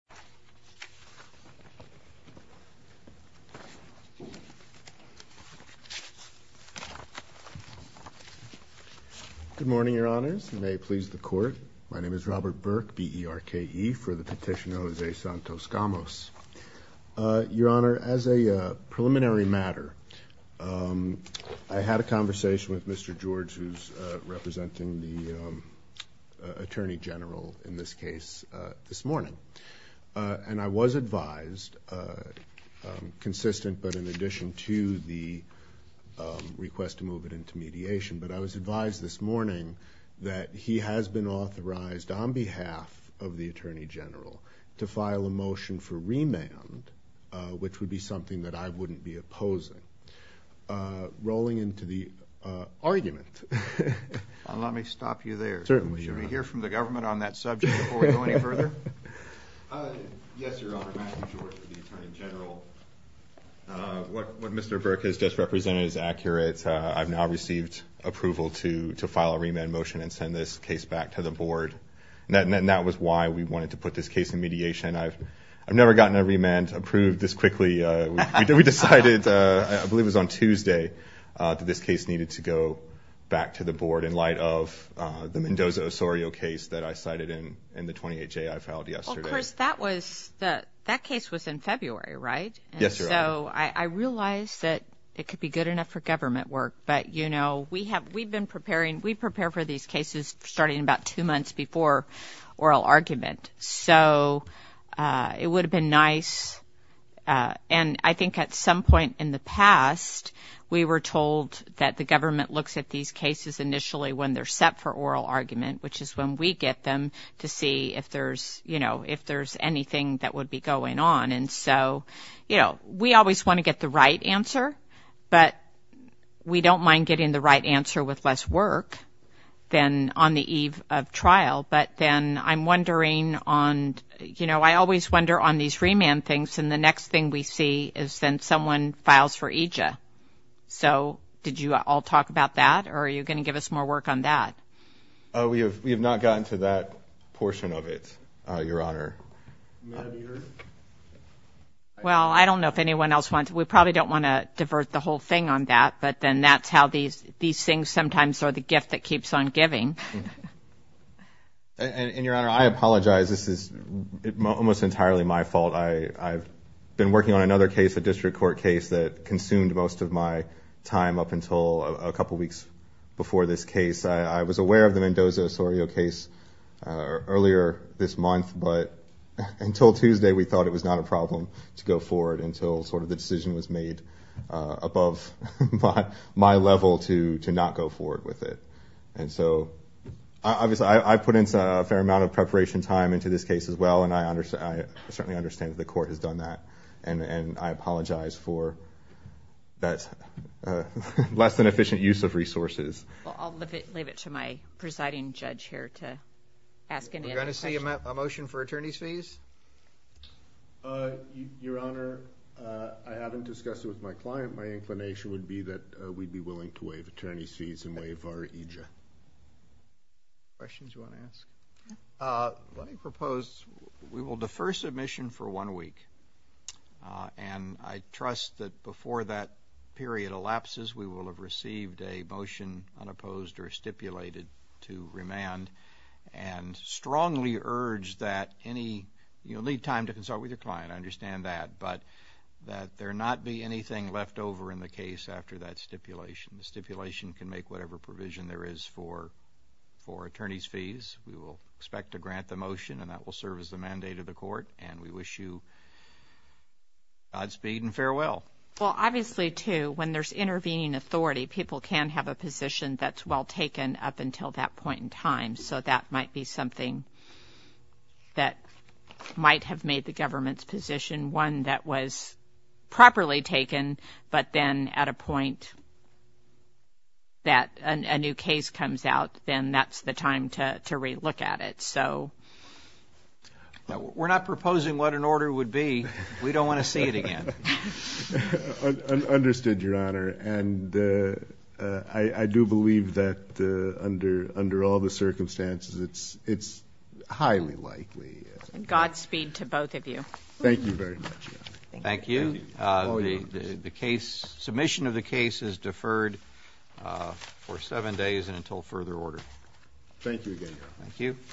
Good morning, Your Honors, and may it please the Court, my name is Robert Burke, B-E-R-K-E, for the petitioner Jose Santos-Gamos. Your Honor, as a preliminary matter, I had a conversation with Mr. George, who's representing the Attorney General in this case, this morning. And I was advised, consistent but in addition to the request to move it into mediation, but I was advised this morning that he has been authorized on behalf of the Attorney General to file a motion for remand, which would be something that I wouldn't be opposing. Rolling into the argument. Let me stop you there. Certainly, Your Honor. Should we hear from the government on that subject before we go any further? Yes, Your Honor, Matthew George for the Attorney General. What Mr. Burke has just represented is accurate. I've now received approval to file a remand motion and send this case back to the Board. And that was why we wanted to put this case in mediation. I've never gotten a remand approved this quickly. We decided, I believe it was on Tuesday, that this case needed to go back to the Board in light of the Mendoza-Osorio case that I cited in the 28-J I filed yesterday. Well, Chris, that case was in February, right? Yes, Your Honor. And so I realized that it could be good enough for government work. But, you know, we've been preparing. We prepare for these cases starting about two months before oral argument. So it would have been nice. And I think at some point in the past, we were told that the government looks at these cases initially when they're set for oral argument, which is when we get them to see if there's, you know, if there's anything that would be going on. And so, you know, we always want to get the right answer, but we don't mind getting the right answer with less work than on the eve of trial. But then I'm wondering on, you know, I always wonder on these remand things. And the next thing we see is then someone files for EJIA. So did you all talk about that? Or are you going to give us more work on that? We have not gotten to that portion of it, Your Honor. Well, I don't know if anyone else wants to. We probably don't want to divert the whole thing on that. But then that's how these these things sometimes are the gift that keeps on giving. And Your Honor, I apologize. This is almost entirely my fault. I've been working on another case, a district court case that consumed most of my time up until a couple weeks before this case. I was aware of the Mendoza-Osorio case earlier this month, but until Tuesday, we thought it was not a problem to go forward until sort of the decision was made above my level to not go forward with it. And so, obviously, I put in a fair amount of preparation time into this case as well. And I certainly understand that the court has done that. And I apologize for that less than efficient use of resources. Well, I'll leave it to my presiding judge here to ask him any questions. We're going to see a motion for attorney's fees? Your Honor, I haven't discussed it with my client. My inclination would be that we'd be willing to waive attorney's fees and waive our EJIA. Questions you want to ask? Let me propose we will defer submission for one week. And I trust that before that period elapses, we will have received a motion unopposed or stipulated to remand and strongly urge that any, you'll need time to consult with your client, I understand that, but that there not be anything left over in the case after that stipulation. The stipulation can make whatever provision there is for attorney's fees. We will expect to grant the motion and that will serve as the mandate of the court. And we wish you Godspeed and farewell. Well, obviously, too, when there's intervening authority, people can have a position that's all taken up until that point in time. So that might be something that might have made the government's position one that was properly taken, but then at a point that a new case comes out, then that's the time to relook at it. So. We're not proposing what an order would be. We don't want to see it again. Understood, Your Honor. And I do believe that under all the circumstances, it's highly likely. Godspeed to both of you. Thank you very much, Your Honor. Thank you. The case, submission of the case is deferred for seven days and until further order. Thank you again, Your Honor. Thank you.